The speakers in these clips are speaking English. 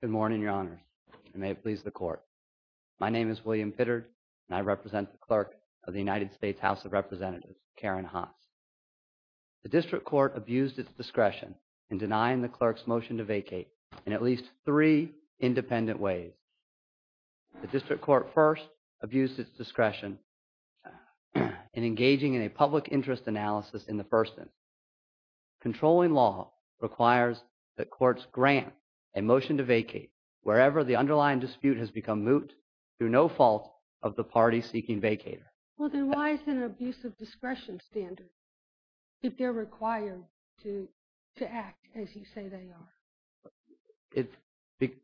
Good morning, Your Honors, and may it please the Court. My name is William Pittard, and I represent the Clerk of the United States House of Representatives, Karen Haas. The District Court abused its discretion in denying the Clerk's motion to vacate in at least three independent ways. The District Court first abused its discretion in engaging in a public interest analysis in the first instance. Controlling law requires that courts grant a motion to vacate wherever the underlying dispute has become moot through no fault of the party seeking vacater. Well, then why is it an abuse of discretion standard if they're required to act as you say they are?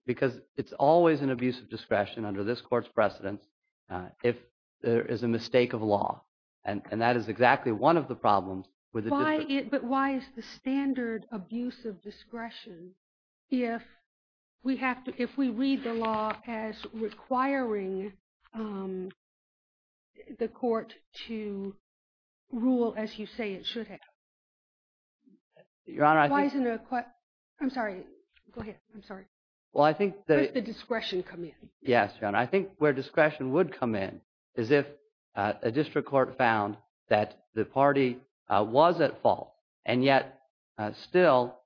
Because it's always an abuse of discretion under this Court's precedence if there is a mistake of law, and that is exactly one of the problems with the District Court. But why is the standard abuse of discretion if we read the law as requiring the Court to rule as you say it should have? I'm sorry, go ahead, I'm sorry, where does the discretion come in? Yes, Your Honor, I think where discretion would come in is if a District Court found that the party was at fault and yet still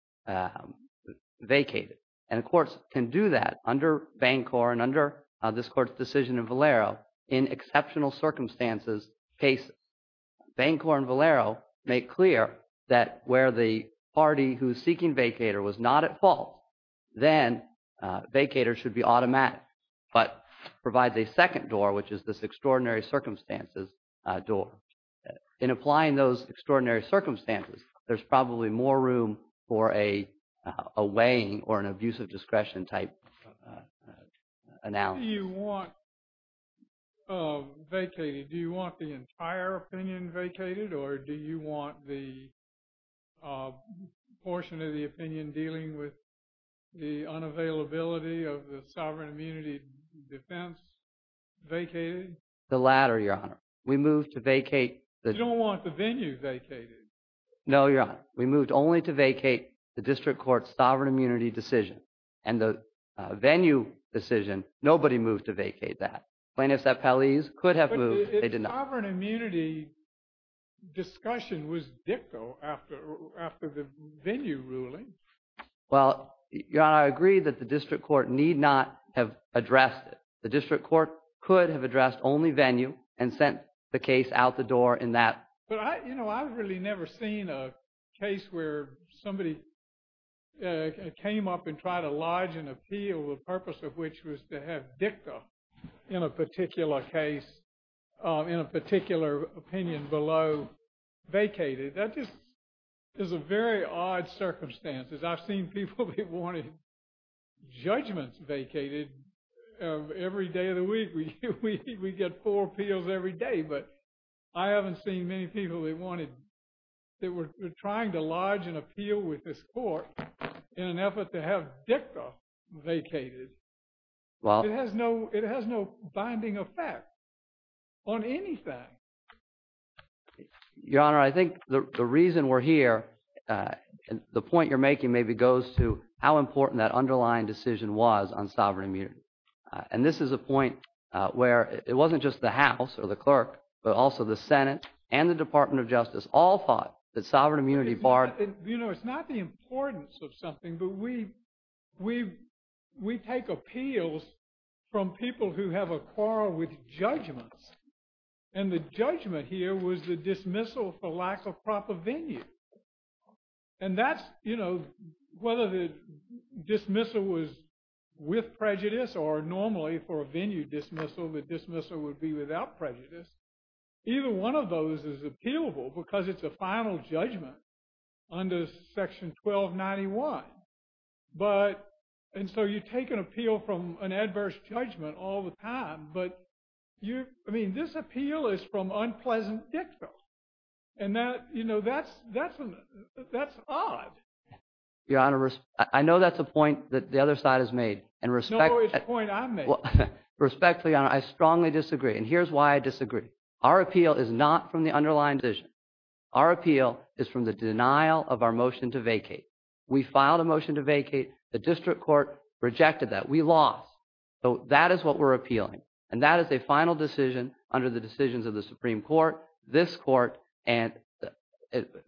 vacated. And courts can do that under Bancor and under this Court's decision in Valero in exceptional circumstances case Bancor and Valero make clear that where the party who is seeking vacater was not at fault, then vacater should be automatic, but provide a second door which is this extraordinary circumstances door. In applying those extraordinary circumstances, there's probably more room for a weighing or an abuse of discretion type analysis. Why do you want vacated? Do you want the entire opinion vacated or do you want the portion of the opinion dealing with the unavailability of the sovereign immunity defense vacated? The latter, Your Honor. We moved to vacate. You don't want the venue vacated. No, Your Honor. We moved only to vacate the District Court's sovereign immunity decision and the venue decision. Nobody moved to vacate that. Plaintiffs at Paliz could have moved, they did not. But the sovereign immunity discussion was dicto after the venue ruling. Well, Your Honor, I agree that the District Court need not have addressed it. The District Court could have addressed only venue and sent the case out the door in that. But I, you know, I've really never seen a case where somebody came up and tried to lodge an appeal, the purpose of which was to have dicto in a particular case, in a particular opinion below vacated. That just is a very odd circumstances. I've seen people that wanted judgments vacated every day of the week. We get four appeals every day. But I haven't seen many people that wanted, that were trying to lodge an appeal with this dicto vacated. Well, it has no, it has no binding effect on anything. Your Honor, I think the reason we're here, and the point you're making maybe goes to how important that underlying decision was on sovereign immunity. And this is a point where it wasn't just the House or the clerk, but also the Senate and the Department of Justice all thought that sovereign immunity barred, you know, it's not the importance of something, but we take appeals from people who have a quarrel with judgments. And the judgment here was the dismissal for lack of proper venue. And that's, you know, whether the dismissal was with prejudice or normally for a venue dismissal, the dismissal would be without prejudice, either one of those is appealable because it's a final judgment under section 1291. But and so you take an appeal from an adverse judgment all the time. But you, I mean, this appeal is from unpleasant dicto. And that, you know, that's, that's, that's odd. Your Honor, I know that's a point that the other side has made. And respect. No, it's a point I made. Respectfully, Your Honor, I strongly disagree. And here's why I disagree. Our appeal is not from the underlying decision. Our appeal is from the denial of our motion to vacate. We filed a motion to vacate. The district court rejected that. We lost. So that is what we're appealing. And that is a final decision under the decisions of the Supreme Court, this court, and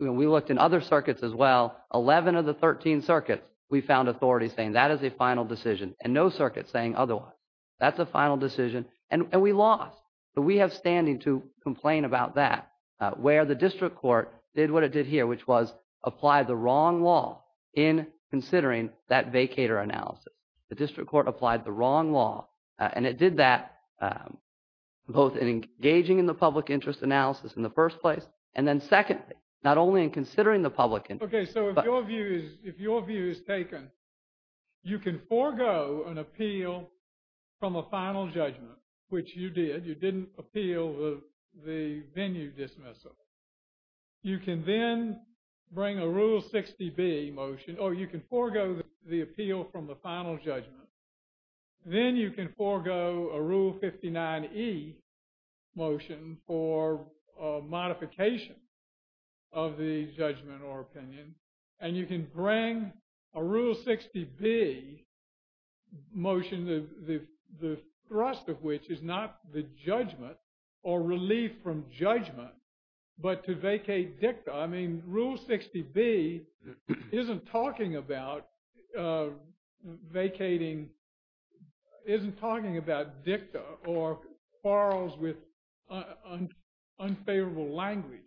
we looked in other circuits as well, 11 of the 13 circuits, we found authorities saying that is a final decision and no circuit saying otherwise. That's a final decision. And we lost. So we have standing to complain about that. Where the district court did what it did here, which was apply the wrong law in considering that vacator analysis. The district court applied the wrong law. And it did that both in engaging in the public interest analysis in the first place. And then secondly, not only in considering the public interest. Okay. So if your view is, if your view is taken, you can forego an appeal from a final judgment, which you did. You didn't appeal the venue dismissal. You can then bring a Rule 60B motion, or you can forego the appeal from the final judgment. Then you can forego a Rule 59E motion for modification of the judgment or opinion. And you can bring a Rule 60B motion, the thrust of which is not the judgment or relief from judgment, but to vacate dicta. I mean, Rule 60B isn't talking about vacating, isn't talking about dicta or quarrels with unfavorable language.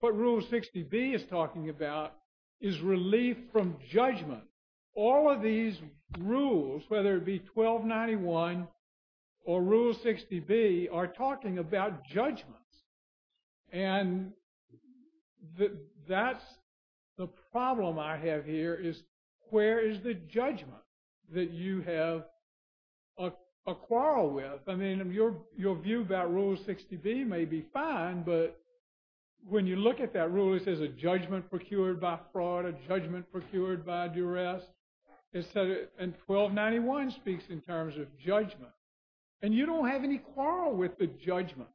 What Rule 60B is talking about is relief from judgment. All of these rules, whether it be 1291 or Rule 60B are talking about judgments. And that's the problem I have here is where is the judgment that you have a quarrel with? I mean, your view about Rule 60B may be fine, but when you look at that rule, it says a judgment procured by fraud, a judgment procured by duress, and 1291 speaks in terms of judgment. And you don't have any quarrel with the judgment.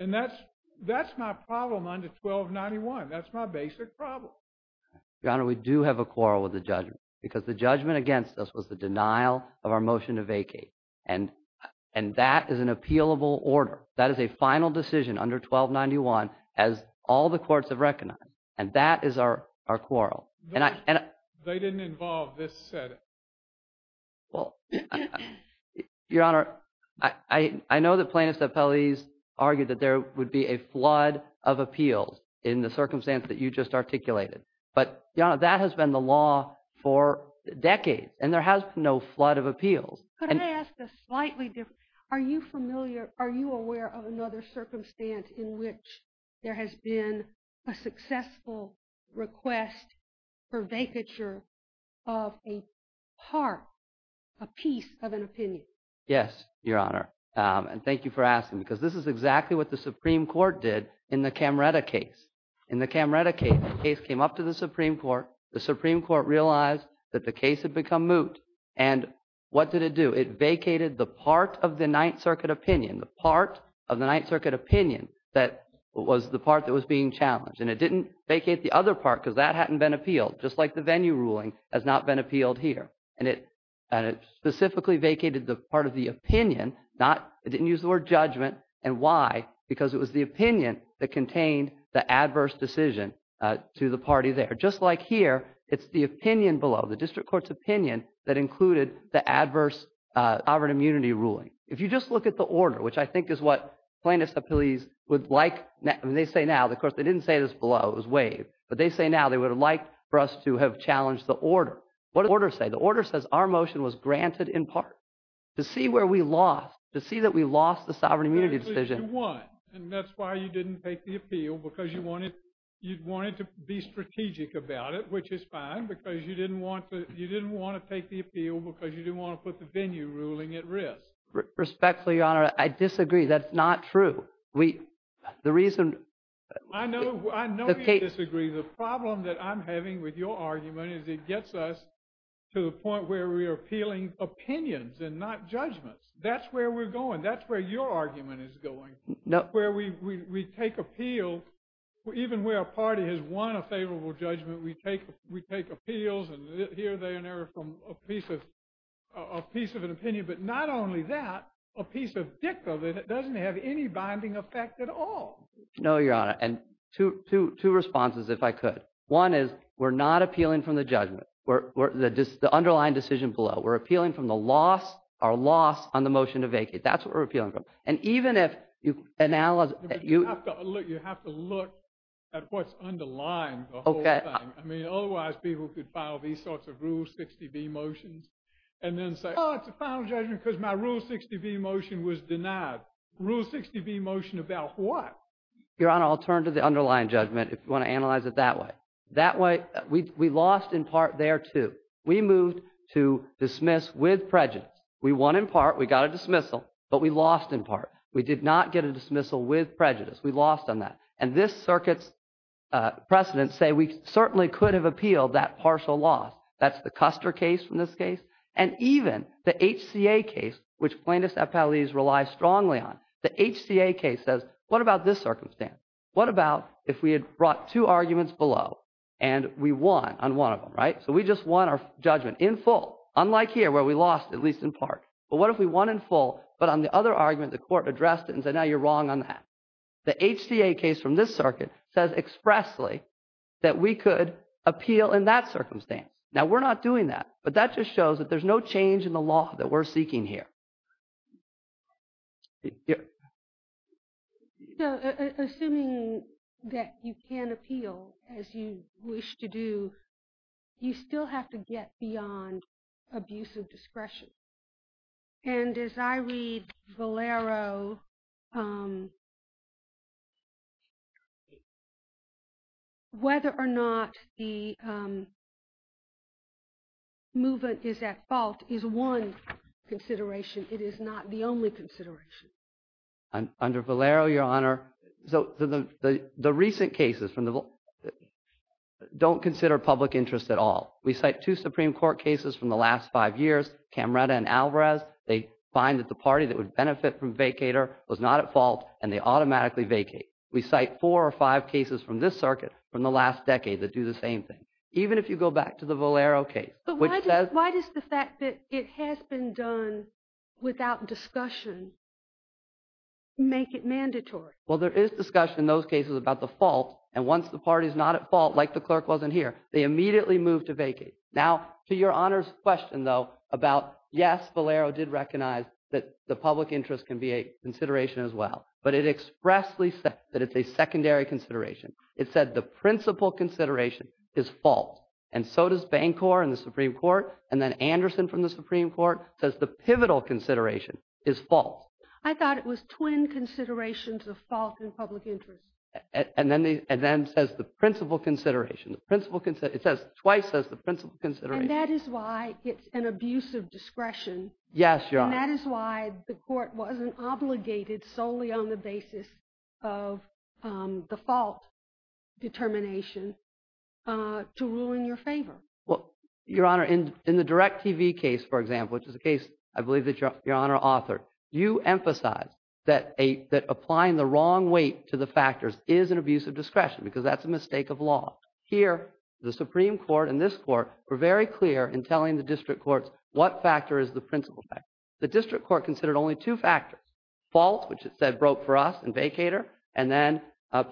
And that's my problem under 1291. That's my basic problem. Your Honor, we do have a quarrel with the judgment because the judgment against us was the denial of our motion to vacate. And that is an appealable order. That is a final decision under 1291 as all the courts have recognized. And that is our quarrel. They didn't involve this Senate. Well, Your Honor, I know that plaintiffs' appellees argued that there would be a flood of appeals in the circumstance that you just articulated. But Your Honor, that has been the law for decades, and there has been no flood of appeals. Could I ask a slightly different? Are you familiar, are you aware of another circumstance in which there has been a successful request for vacature of a part, a piece of an opinion? Yes, Your Honor, and thank you for asking because this is exactly what the Supreme Court did in the Camretta case. In the Camretta case, the case came up to the Supreme Court. The Supreme Court realized that the case had become moot. And what did it do? It vacated the part of the Ninth Circuit opinion, the part of the Ninth Circuit opinion that was the part that was being challenged. And it didn't vacate the other part because that hadn't been appealed, just like the venue ruling has not been appealed here. And it specifically vacated the part of the opinion, it didn't use the word judgment. And why? Because it was the opinion that contained the adverse decision to the party there. Just like here, it's the opinion below, the district court's opinion that included the adverse sovereign immunity ruling. If you just look at the order, which I think is what plaintiffs' appellees would like, I mean, they say now, of course, they didn't say this below, it was waived, but they say now they would have liked for us to have challenged the order. What did the order say? The order says our motion was granted in part to see where we lost, to see that we lost the sovereign immunity decision. You won, and that's why you didn't take the appeal, because you wanted to be strategic about it, which is fine, because you didn't want to take the appeal because you didn't want to put the venue ruling at risk. Respectfully, Your Honor, I disagree, that's not true. The reason... I know you disagree. The problem that I'm having with your argument is it gets us to the point where we are appealing opinions and not judgments. That's where we're going. That's where your argument is going, where we take appeal, even where a party has won a favorable judgment, we take appeals and here they are from a piece of an opinion. But not only that, a piece of dicta that doesn't have any binding effect at all. No, Your Honor, and two responses, if I could. One is we're not appealing from the judgment, the underlying decision below. We're appealing from the loss, our loss on the motion to vacate. That's what we're appealing from. And even if you analyze... You have to look at what's underlying the whole thing, I mean, otherwise people could file these sorts of Rule 60B motions and then say, oh, it's a final judgment because my Rule 60B motion was denied. Rule 60B motion about what? Your Honor, I'll turn to the underlying judgment if you want to analyze it that way. That way, we lost in part there too. We moved to dismiss with prejudice. We won in part, we got a dismissal, but we lost in part. We did not get a dismissal with prejudice. We lost on that. And this Circuit's precedents say we certainly could have appealed that partial loss. That's the Custer case from this case. And even the HCA case, which plaintiffs' appellees rely strongly on, the HCA case says, what about this circumstance? What about if we had brought two arguments below and we won on one of them, right? So we just won our judgment in full, unlike here where we lost, at least in part. But what if we won in full, but on the other argument, the Court addressed it and said, now you're wrong on that. The HCA case from this Circuit says expressly that we could appeal in that circumstance. Now we're not doing that, but that just shows that there's no change in the law that we're seeking here. So assuming that you can appeal as you wish to do, you still have to get beyond abusive discretion. And as I read Valero, whether or not the movement is at fault is one consideration. It is not the only consideration. Under Valero, Your Honor, the recent cases don't consider public interest at all. We cite two Supreme Court cases from the last five years, Camreta and Alvarez. They find that the party that would benefit from vacator was not at fault, and they automatically vacate. We cite four or five cases from this Circuit from the last decade that do the same thing. Even if you go back to the Valero case, which says- But why does the fact that it has been done without discussion make it mandatory? Well, there is discussion in those cases about the fault, and once the party's not at fault, like the clerk wasn't here, they immediately move to vacate. Now to Your Honor's question, though, about yes, Valero did recognize that the public interest can be a consideration as well, but it expressly said that it's a secondary consideration. It said the principal consideration is fault, and so does Bancor and the Supreme Court, and then Anderson from the Supreme Court says the pivotal consideration is fault. I thought it was twin considerations of fault and public interest. And then says the principal consideration. It says, twice says the principal consideration. And that is why it's an abuse of discretion. Yes, Your Honor. And that is why the court wasn't obligated solely on the basis of the fault determination to rule in your favor. Well, Your Honor, in the DirecTV case, for example, which is a case I believe that Your is an abuse of discretion, because that's a mistake of law. Here, the Supreme Court and this Court were very clear in telling the district courts what factor is the principal factor. The district court considered only two factors, fault, which it said broke for us and vacater, and then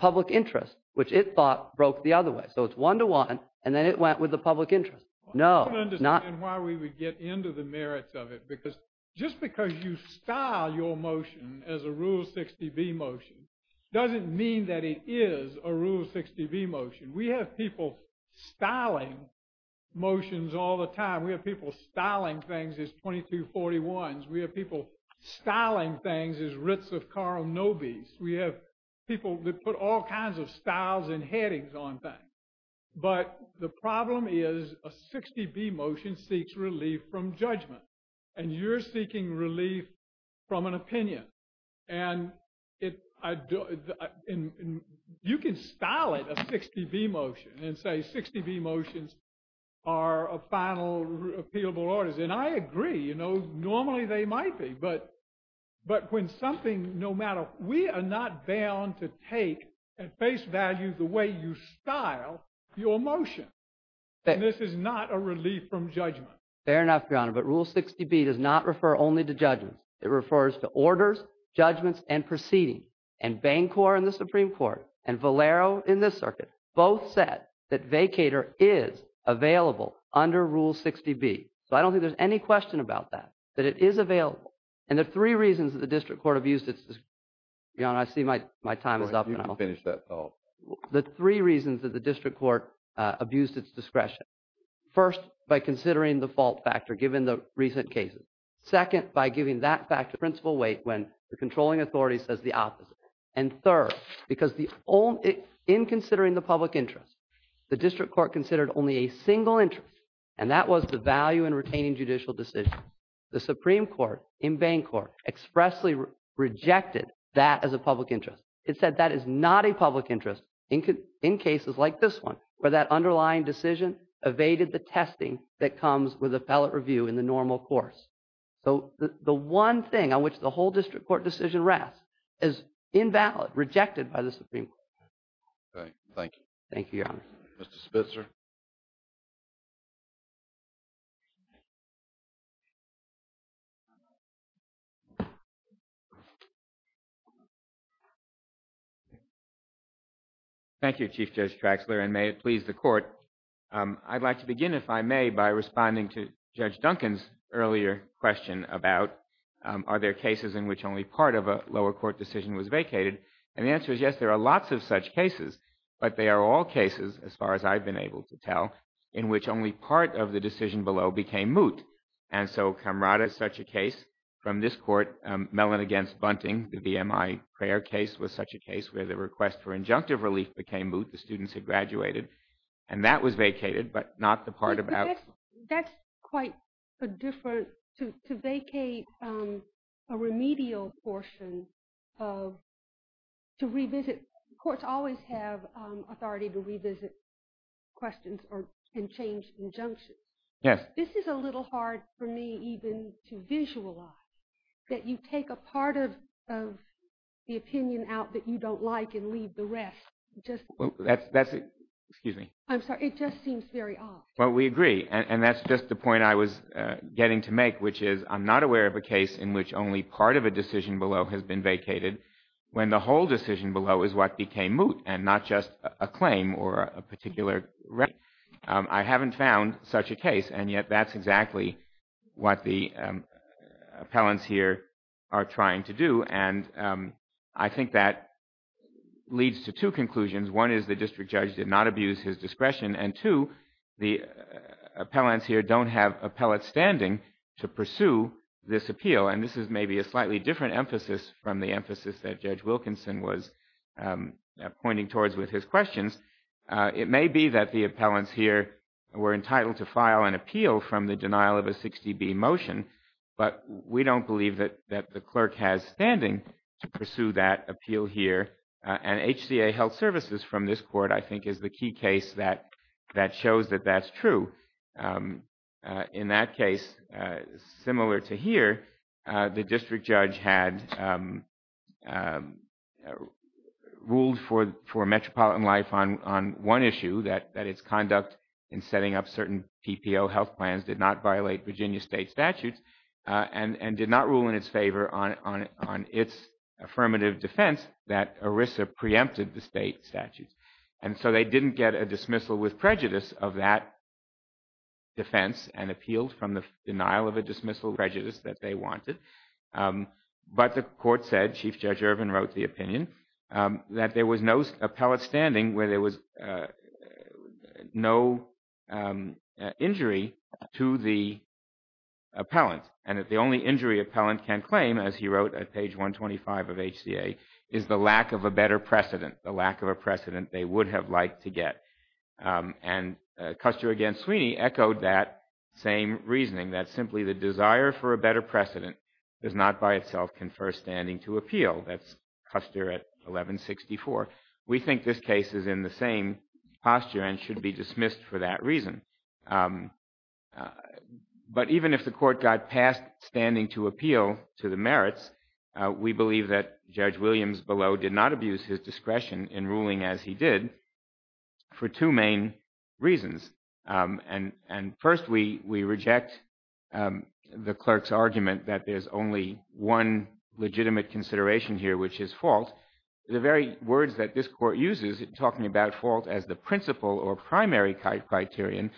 public interest, which it thought broke the other way. So it's one to one, and then it went with the public interest. No, not. I don't understand why we would get into the merits of it, because just because you style your motion as a Rule 60B motion doesn't mean that it is a Rule 60B motion. We have people styling motions all the time. We have people styling things as 2241s. We have people styling things as writs of Carl Nobis. We have people that put all kinds of styles and headings on things. But the problem is a 60B motion seeks relief from judgment. And you're seeking relief from an opinion. And you can style it a 60B motion and say 60B motions are final appealable orders. And I agree. Normally, they might be. But when something, no matter, we are not bound to take at face value the way you style your motion. And this is not a relief from judgment. Fair enough, Your Honor. But Rule 60B does not refer only to judgments. It refers to orders, judgments, and proceedings. And Bancor in the Supreme Court and Valero in this circuit both said that vacator is available under Rule 60B. So I don't think there's any question about that, that it is available. And the three reasons that the district court abused its discretion, Your Honor, I see my time is up. You can finish that thought. The three reasons that the district court abused its discretion. First, by considering the fault factor given the recent cases. Second, by giving that factor principal weight when the controlling authority says the opposite. And third, because in considering the public interest, the district court considered only a single interest. And that was the value in retaining judicial decision. The Supreme Court in Bancor expressly rejected that as a public interest. It said that is not a public interest in cases like this one, where that underlying decision evaded the testing that comes with a ballot review in the normal course. So the one thing on which the whole district court decision rests is invalid, rejected by the Supreme Court. Okay, thank you. Thank you, Your Honor. Mr. Spitzer. Thank you, Chief Judge Traxler, and may it please the court. I'd like to begin, if I may, by responding to Judge Duncan's earlier question about are there cases in which only part of a lower court decision was vacated? And the answer is yes, there are lots of such cases. But they are all cases, as far as I've been able to tell, in which only part of the decision below became moot. And so, Camrata, such a case from this court, Mellon against Bunting, the VMI prayer case was such a case where the request for injunctive relief became moot. The students had graduated. And that was vacated, but not the part about... That's quite a different... To vacate a remedial portion of... To revisit... Courts always have authority to revisit questions and change injunctions. Yes. But this is a little hard for me even to visualize, that you take a part of the opinion out that you don't like and leave the rest just... That's... Excuse me. I'm sorry. It just seems very odd. Well, we agree. And that's just the point I was getting to make, which is I'm not aware of a case in which only part of a decision below has been vacated when the whole decision below is what became moot and not just a claim or a particular remedy. I haven't found such a case, and yet that's exactly what the appellants here are trying to do. And I think that leads to two conclusions. One is the district judge did not abuse his discretion. And two, the appellants here don't have appellate standing to pursue this appeal. And this is maybe a slightly different emphasis from the emphasis that Judge Wilkinson was pointing towards with his questions. It may be that the appellants here were entitled to file an appeal from the denial of a 60B motion, but we don't believe that the clerk has standing to pursue that appeal here. And HCA Health Services from this court, I think, is the key case that shows that that's true. In that case, similar to here, the district judge had ruled for Metropolitan Life on one issue, that its conduct in setting up certain PPO health plans did not violate Virginia state statutes and did not rule in its favor on its affirmative defense that ERISA preempted the state statutes. And so they didn't get a dismissal with prejudice of that defense and appealed from the denial of a dismissal prejudice that they wanted. But the court said, Chief Judge Ervin wrote the opinion, that there was no appellate standing where there was no injury to the appellant. And that the only injury appellant can claim, as he wrote at page 125 of HCA, is the lack of a better precedent, the lack of a precedent they would have liked to get. And Custer against Sweeney echoed that same reasoning, that simply the desire for a better precedent does not by itself confer standing to appeal. That's Custer at 1164. We think this case is in the same posture and should be dismissed for that reason. But even if the court got past standing to appeal to the merits, we believe that Judge Williams below did not abuse his discretion in ruling as he did for two main reasons. And first, we reject the clerk's argument that there's only one legitimate consideration here, which is fault. The very words that this court uses in talking about fault as the principal or primary criterion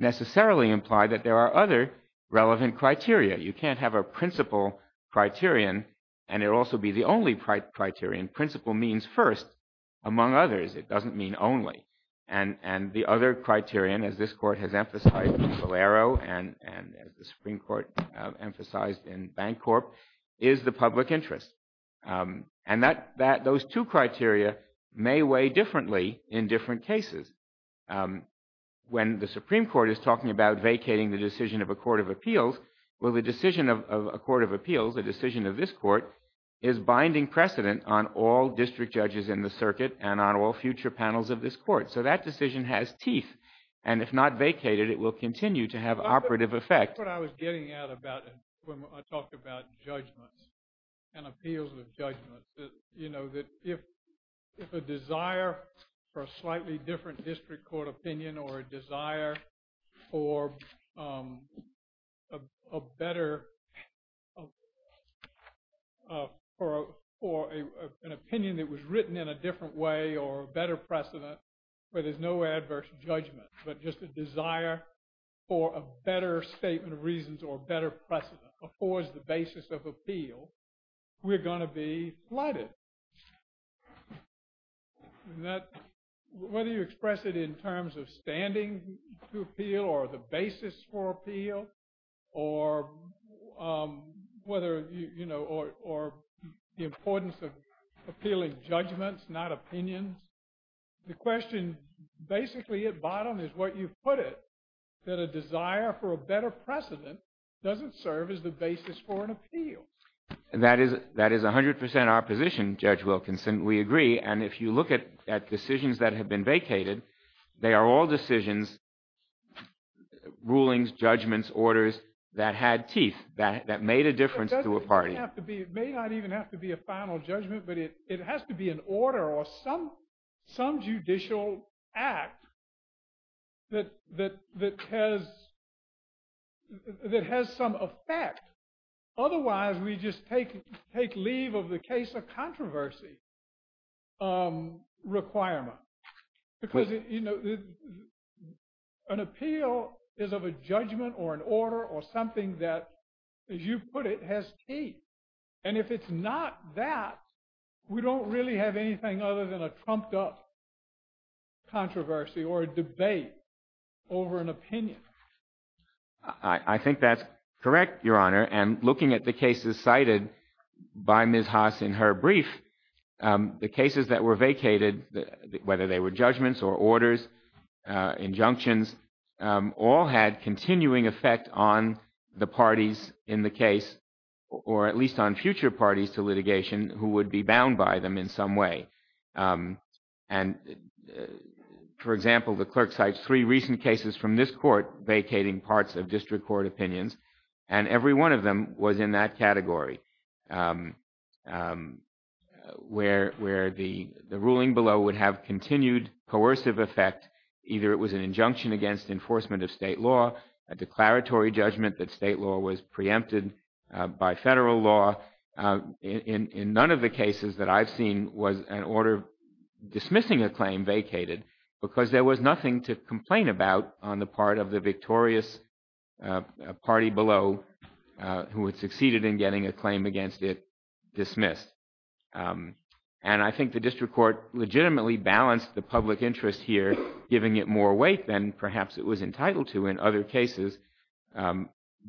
necessarily imply that there are other relevant criteria. You can't have a principal criterion and it also be the only criterion. Principal means first, among others. It doesn't mean only. And the other criterion, as this court has emphasized in Solero and as the Supreme Court emphasized in Bancorp, is the public interest. And those two criteria may weigh differently in different cases. When the Supreme Court is talking about vacating the decision of a court of appeals, will the decision of a court of appeals, a decision of this court, is binding precedent on all district judges in the circuit and on all future panels of this court. So that decision has teeth. And if not vacated, it will continue to have operative effect. That's what I was getting at when I talked about judgments and appeals of judgment. You know, that if a desire for a slightly different district court opinion or a desire for a better, for an opinion that was written in a different way or a better precedent, where there's no adverse judgment, but just a desire for a better statement of reasons or better precedent affords the basis of appeal, we're going to be flooded. And that, whether you express it in terms of standing to appeal or the basis for appeal, or whether, you know, or the importance of appealing judgments, not opinions, the question basically at bottom is what you've put it, that a desire for a better precedent doesn't serve as the basis for an appeal. And that is 100% our position, Judge Wilkinson. We agree. And if you look at decisions that have been vacated, they are all decisions, rulings, judgments, orders that had teeth, that made a difference to a party. It may not even have to be a final judgment, but it has to be an order or some judicial act that has some effect. Otherwise, we just take leave of the case of controversy requirement. Because, you know, an appeal is of a judgment or an order or something that, as you put it, has teeth. And if it's not that, we don't really have anything other than a trumped up controversy or a debate over an opinion. I think that's correct, Your Honor. And looking at the cases cited by Ms. Haas in her brief, the cases that were vacated, whether they were judgments or orders, injunctions, all had continuing effect on the parties in the case, or at least on future parties to litigation who would be bound by them in some way. And, for example, the clerk cites three recent cases from this court vacating parts of district court opinions, and every one of them was in that category, where the ruling below would have continued coercive effect. Either it was an injunction against enforcement of state law, a declaratory judgment that state law was preempted by federal law. In none of the cases that I've seen was an order dismissing a claim vacated, because there was nothing to complain about on the part of the victorious party below who had succeeded in getting a claim against it dismissed. And I think the district court legitimately balanced the public interest here, giving it more weight than perhaps it was entitled to in other cases,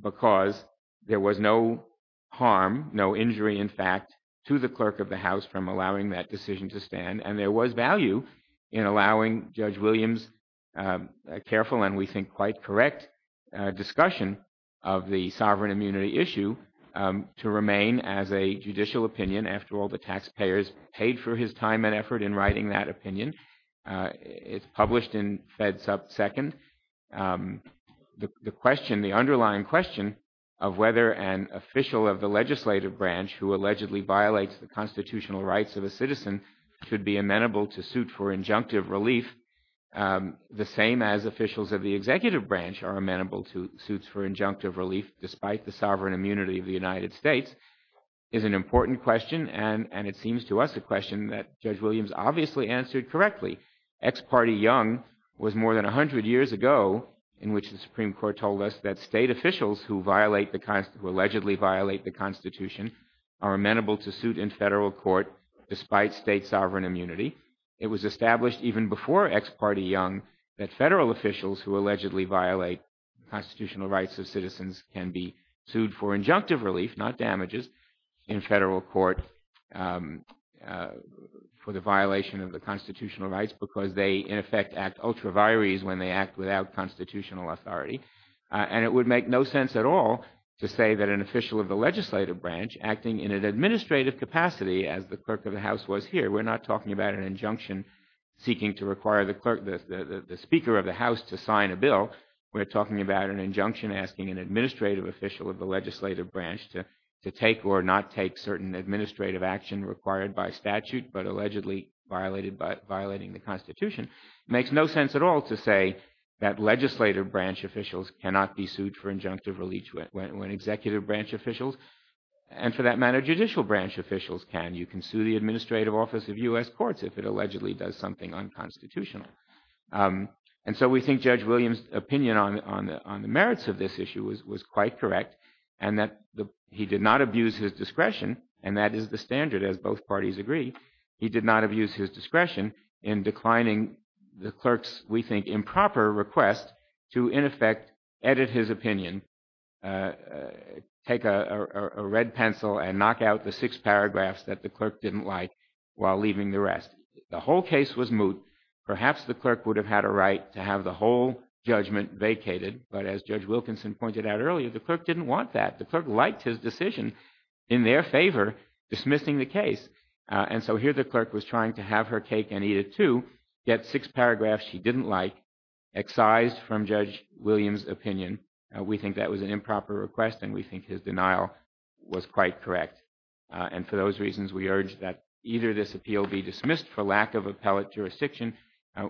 because there was no harm, no injury, in fact, to the clerk of the House from allowing that decision to stand. And there was value in allowing Judge Williams' careful and we think quite correct discussion of the sovereign immunity issue to remain as a judicial opinion. After all, the taxpayers paid for his time and effort in writing that opinion. It's published in FedSecond. The underlying question of whether an official of the legislative branch who allegedly violates the constitutional rights of a citizen should be amenable to suit for injunctive relief, the same as officials of the executive branch are amenable to suits for injunctive relief despite the sovereign immunity of the United States, is an important question, and it seems to us a question that Judge Williams answered correctly. Ex parte Young was more than a hundred years ago in which the Supreme Court told us that state officials who allegedly violate the Constitution are amenable to suit in federal court despite state sovereign immunity. It was established even before ex parte Young that federal officials who allegedly violate the constitutional rights of citizens can be sued for injunctive relief, not damages, in federal court for the constitutional rights because they, in effect, act ultra vires when they act without constitutional authority. And it would make no sense at all to say that an official of the legislative branch acting in an administrative capacity, as the clerk of the House was here, we're not talking about an injunction seeking to require the speaker of the House to sign a bill. We're talking about an injunction asking an administrative official of the legislative branch to take or not take certain administrative action required by statute but allegedly violating the Constitution. It makes no sense at all to say that legislative branch officials cannot be sued for injunctive relief when executive branch officials and, for that matter, judicial branch officials can. You can sue the administrative office of U.S. courts if it allegedly does something unconstitutional. And so we think Judge Williams' opinion on the merits of this issue was quite correct and that he did not abuse his discretion, and that is the standard as both parties agree. He did not abuse his discretion in declining the clerk's, we think, improper request to, in effect, edit his opinion, take a red pencil and knock out the six paragraphs that the clerk didn't like while leaving the rest. The whole case was moot. Perhaps the clerk would have had a right to have the whole judgment vacated, but as Judge Wilkinson pointed out earlier, the clerk didn't want that. The clerk liked his decision in their favor, dismissing the case. And so here the clerk was trying to have her cake and eat it too, get six paragraphs she didn't like, excised from Judge Williams' opinion. We think that was an improper request and we think his denial was quite correct. And for those reasons, we urge that either this appeal be dismissed for lack of appellate jurisdiction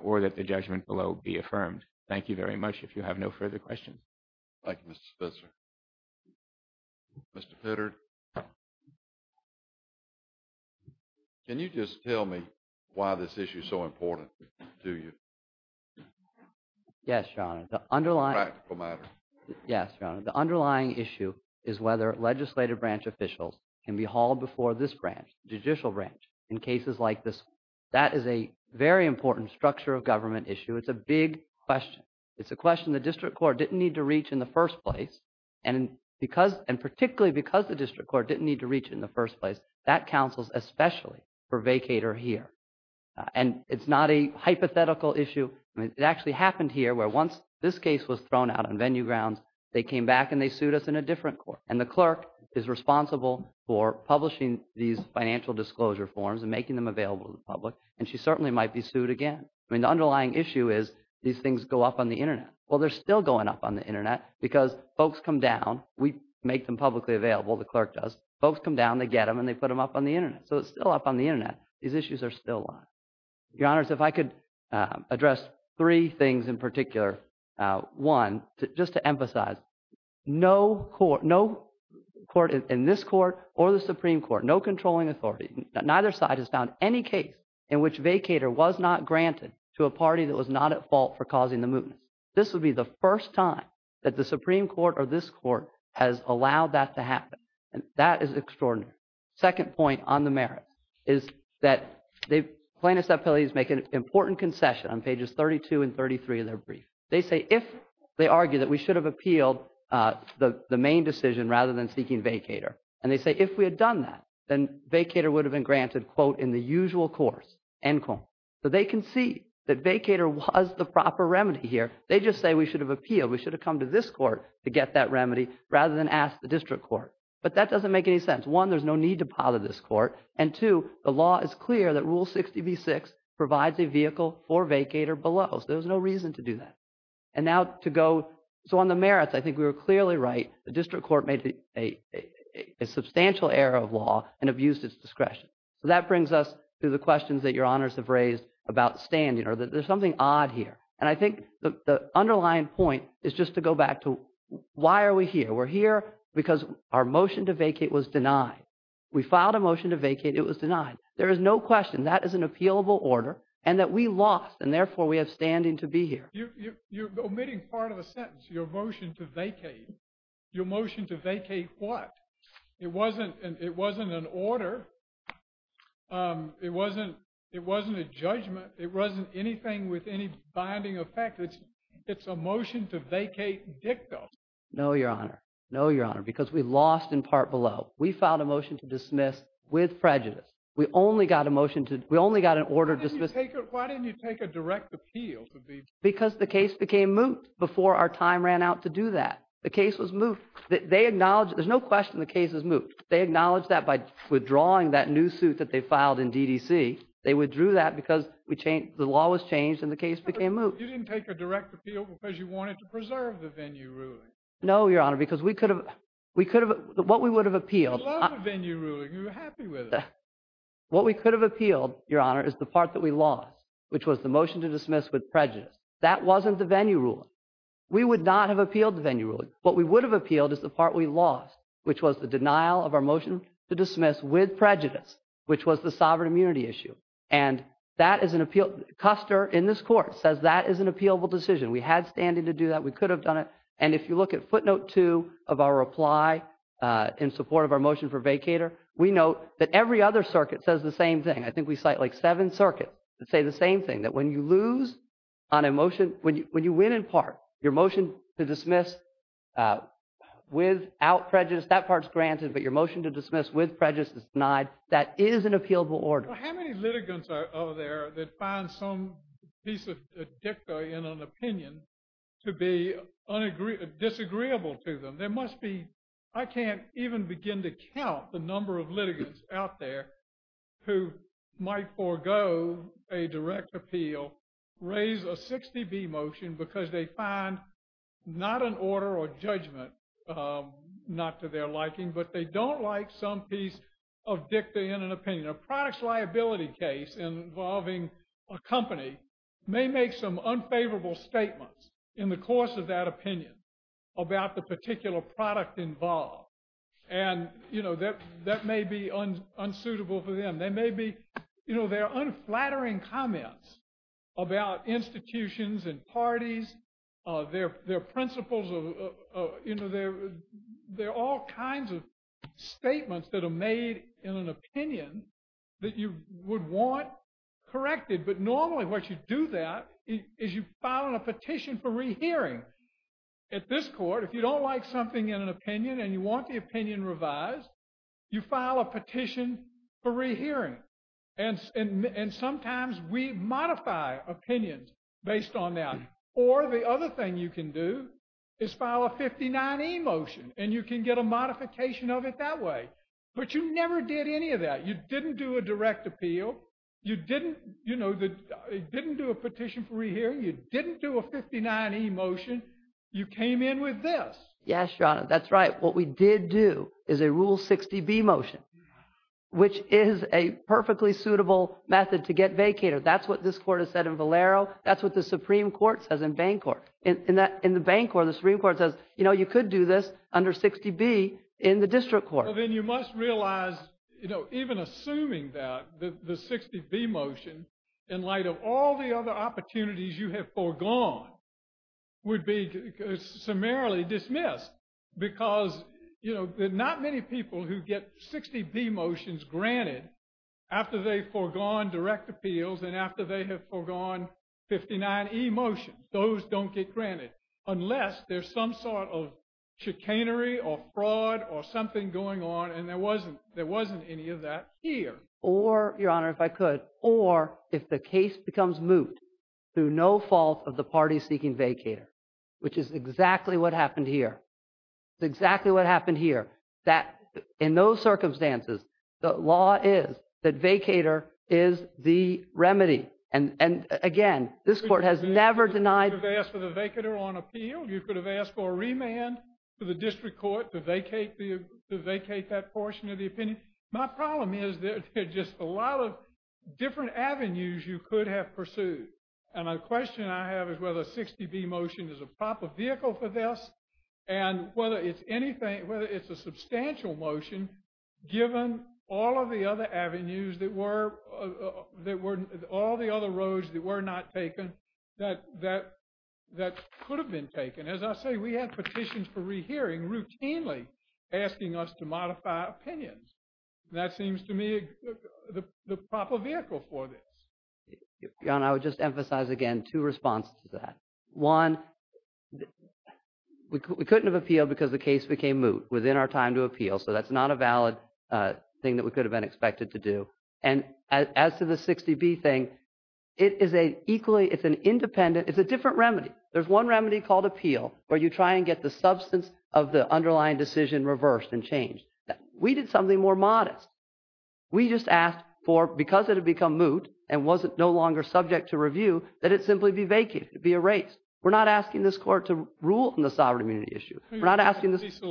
or that the judgment below be affirmed. Thank you very much. If you have no further questions. Thank you, Mr. Spitzer. Mr. Pittard? Can you just tell me why this issue is so important to you? Yes, Your Honor. It's a practical matter. Yes, Your Honor. The underlying issue is whether legislative branch officials can be hauled before this branch, judicial branch, in cases like this. That is a very important structure of government issue. It's a big question. It's a question the district court didn't need to reach in the first place, and particularly because the district court didn't need to reach it in the first place, that counsels especially for vacater here. And it's not a hypothetical issue. It actually happened here where once this case was thrown out on venue grounds, they came back and they sued us in a different court. And the clerk is responsible for publishing these financial disclosure forms and making them available to the public, and she certainly might be sued again. I mean, the underlying issue is these things go up on the Internet. Well, they're still going up on the Internet because folks come down. We make them publicly available, the clerk does. Folks come down, they get them, and they put them up on the Internet. So it's still up on the Internet. These issues are still alive. Your Honors, if I could address three things in particular. One, just to emphasize, no court in this court or the Supreme Court, no controlling authority, neither side has found any case in which vacater was not granted to a party that was not at fault for causing the mootness. This would be the first time that the Supreme Court or this court has allowed that to happen, and that is extraordinary. Second point on the merits is that plaintiffs' appeals make an important concession on pages 32 and 33 of their brief. They say if they argue that we should have appealed the main decision rather than seeking vacater, and they say if we had done that, then vacater would have been granted, quote, in the usual course, end quote. So they can see that vacater was the proper remedy here. They just say we should have appealed, we should have come to this court to get that remedy rather than ask the district court. But that doesn't make any sense. One, there's no need to bother this court. And two, the law is clear that Rule 60b-6 provides a vehicle for vacater below. So there's no reason to do that. And now to go, so on the merits, I think we were clearly right. The district court made a substantial error of law and abused its discretion. So that brings us to the questions that your honors have raised about standing or that there's something odd here. And I think the underlying point is just to go back to why are we here. We're here because our motion to vacate was denied. We filed a motion to vacate. It was denied. There is no question that is an appealable order and that we lost, and therefore we have standing to be here. You're omitting part of a sentence, your motion to vacate. Your motion to vacate what? It wasn't an order. It wasn't a judgment. It wasn't anything with any binding effect. It's a motion to vacate dictum. No, Your Honor. No, Your Honor, because we lost in part below. We filed a motion to dismiss with prejudice. We only got a motion to, we only got an order to dismiss. Why didn't you take a direct appeal? Because the case became moot before our time ran out to do that. The case was moot. They acknowledged, there's no question the case was moot. They acknowledged that by withdrawing that new suit that they filed in DDC. They withdrew that because the law was changed and the case became moot. You didn't take a direct appeal because you wanted to preserve the venue ruling. No, Your Honor, because we could have, what we would have appealed. You loved the venue ruling. You were happy with it. What we could have appealed, Your Honor, is the part that we lost, which was the motion to dismiss with prejudice. That wasn't the venue ruling. We would not have appealed the venue ruling. What we would have appealed is the part we lost, which was the denial of our motion to dismiss with prejudice, which was the sovereign immunity issue. And that is an appeal, Custer, in this court, says that is an appealable decision. We had standing to do that. We could have done it. And if you look at footnote two of our reply in support of our motion for vacator, we note that every other circuit says the same thing. I think we cite like seven circuits that say the same thing, that when you lose on a motion, when you win in part, your motion to dismiss without prejudice, that part's granted, but your motion to dismiss with prejudice is denied. That is an appealable order. How many litigants are there that find some piece of dicta in an opinion to be disagreeable to them? There must be, I can't even begin to count the number of litigants out there who might forego a direct appeal, raise a 60B motion because they find not an order or judgment, not to their liking, but they don't like some piece of dicta in an opinion. A product's liability case involving a company may make some unfavorable statements in the course of that opinion about the particular product involved. And that may be unsuitable for them. They may be, you know, they're unflattering comments about institutions and parties. They're principles of, you know, they're all kinds of statements that are made in an opinion that you would want corrected. But normally what you do that is you file a petition for rehearing. At this court, if you don't like something in an opinion and you want the opinion revised, you file a petition for rehearing. And sometimes we modify opinions based on that. Or the other thing you can do is file a 59E motion and you can get a modification of it that way. But you never did any of that. You didn't do a direct appeal. You didn't, you know, didn't do a petition for rehearing. You didn't do a 59E motion. You came in with this. Yes, Your Honor, that's right. What we did do is a Rule 60B motion, which is a perfectly suitable method to get vacated. That's what this court has said in Valero. That's what the Supreme Court says in Bancorp. In the Bancorp, the Supreme Court says, you know, you could do this under 60B in the district court. Well, then you must realize, you know, even assuming that the 60B motion, in light of all the other opportunities you have foregone, would be summarily dismissed. Because, you know, there are not many people who get 60B motions granted after they foregone direct appeals and after they have foregone 59E motions. Those don't get granted unless there's some sort of chicanery or fraud or something going on. And there wasn't any of that here. Or, Your Honor, if I could, or if the case becomes moot through no fault of the party seeking vacater, which is exactly what happened here. It's exactly what happened here. That, in those circumstances, the law is that vacater is the remedy. And, again, this court has never denied… You could have asked for the vacater on appeal. You could have asked for a remand to the district court to vacate that portion of the opinion. My problem is there are just a lot of different avenues you could have pursued. And my question I have is whether a 60B motion is a proper vehicle for this and whether it's anything, whether it's a substantial motion given all of the other avenues that were, all the other roads that were not taken that could have been taken. As I say, we have petitions for rehearing routinely asking us to modify opinions. That seems to me the proper vehicle for this. John, I would just emphasize again two responses to that. One, we couldn't have appealed because the case became moot within our time to appeal. So that's not a valid thing that we could have been expected to do. And as to the 60B thing, it is a equally, it's an independent, it's a different remedy. There's one remedy called appeal where you try and get the substance of the underlying decision reversed and changed. We did something more modest. We just asked for, because it had become moot and wasn't no longer subject to review, that it simply be vacated, be erased. We're not asking this court to rule in the sovereign immunity issue. We're not asking this.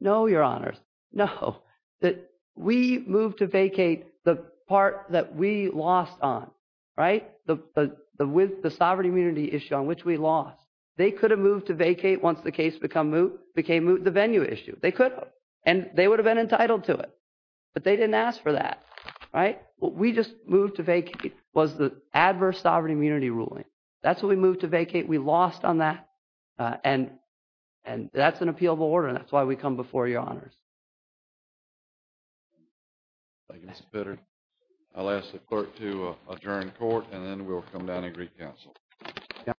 No, your honors. No, that we moved to vacate the part that we lost on, right? The, the, the, with the sovereign immunity issue on which we lost, they could have moved to vacate once the case become moot, became moot the venue issue. They could, and they would have been entitled to it, but they didn't ask for that. Right? We just moved to vacate was the adverse sovereign immunity ruling. That's what we moved to vacate. We lost on that. And, and that's an appealable order. And that's why we come before your honors. I guess better. I'll ask the clerk to adjourn court and then we'll come down and greet counsel.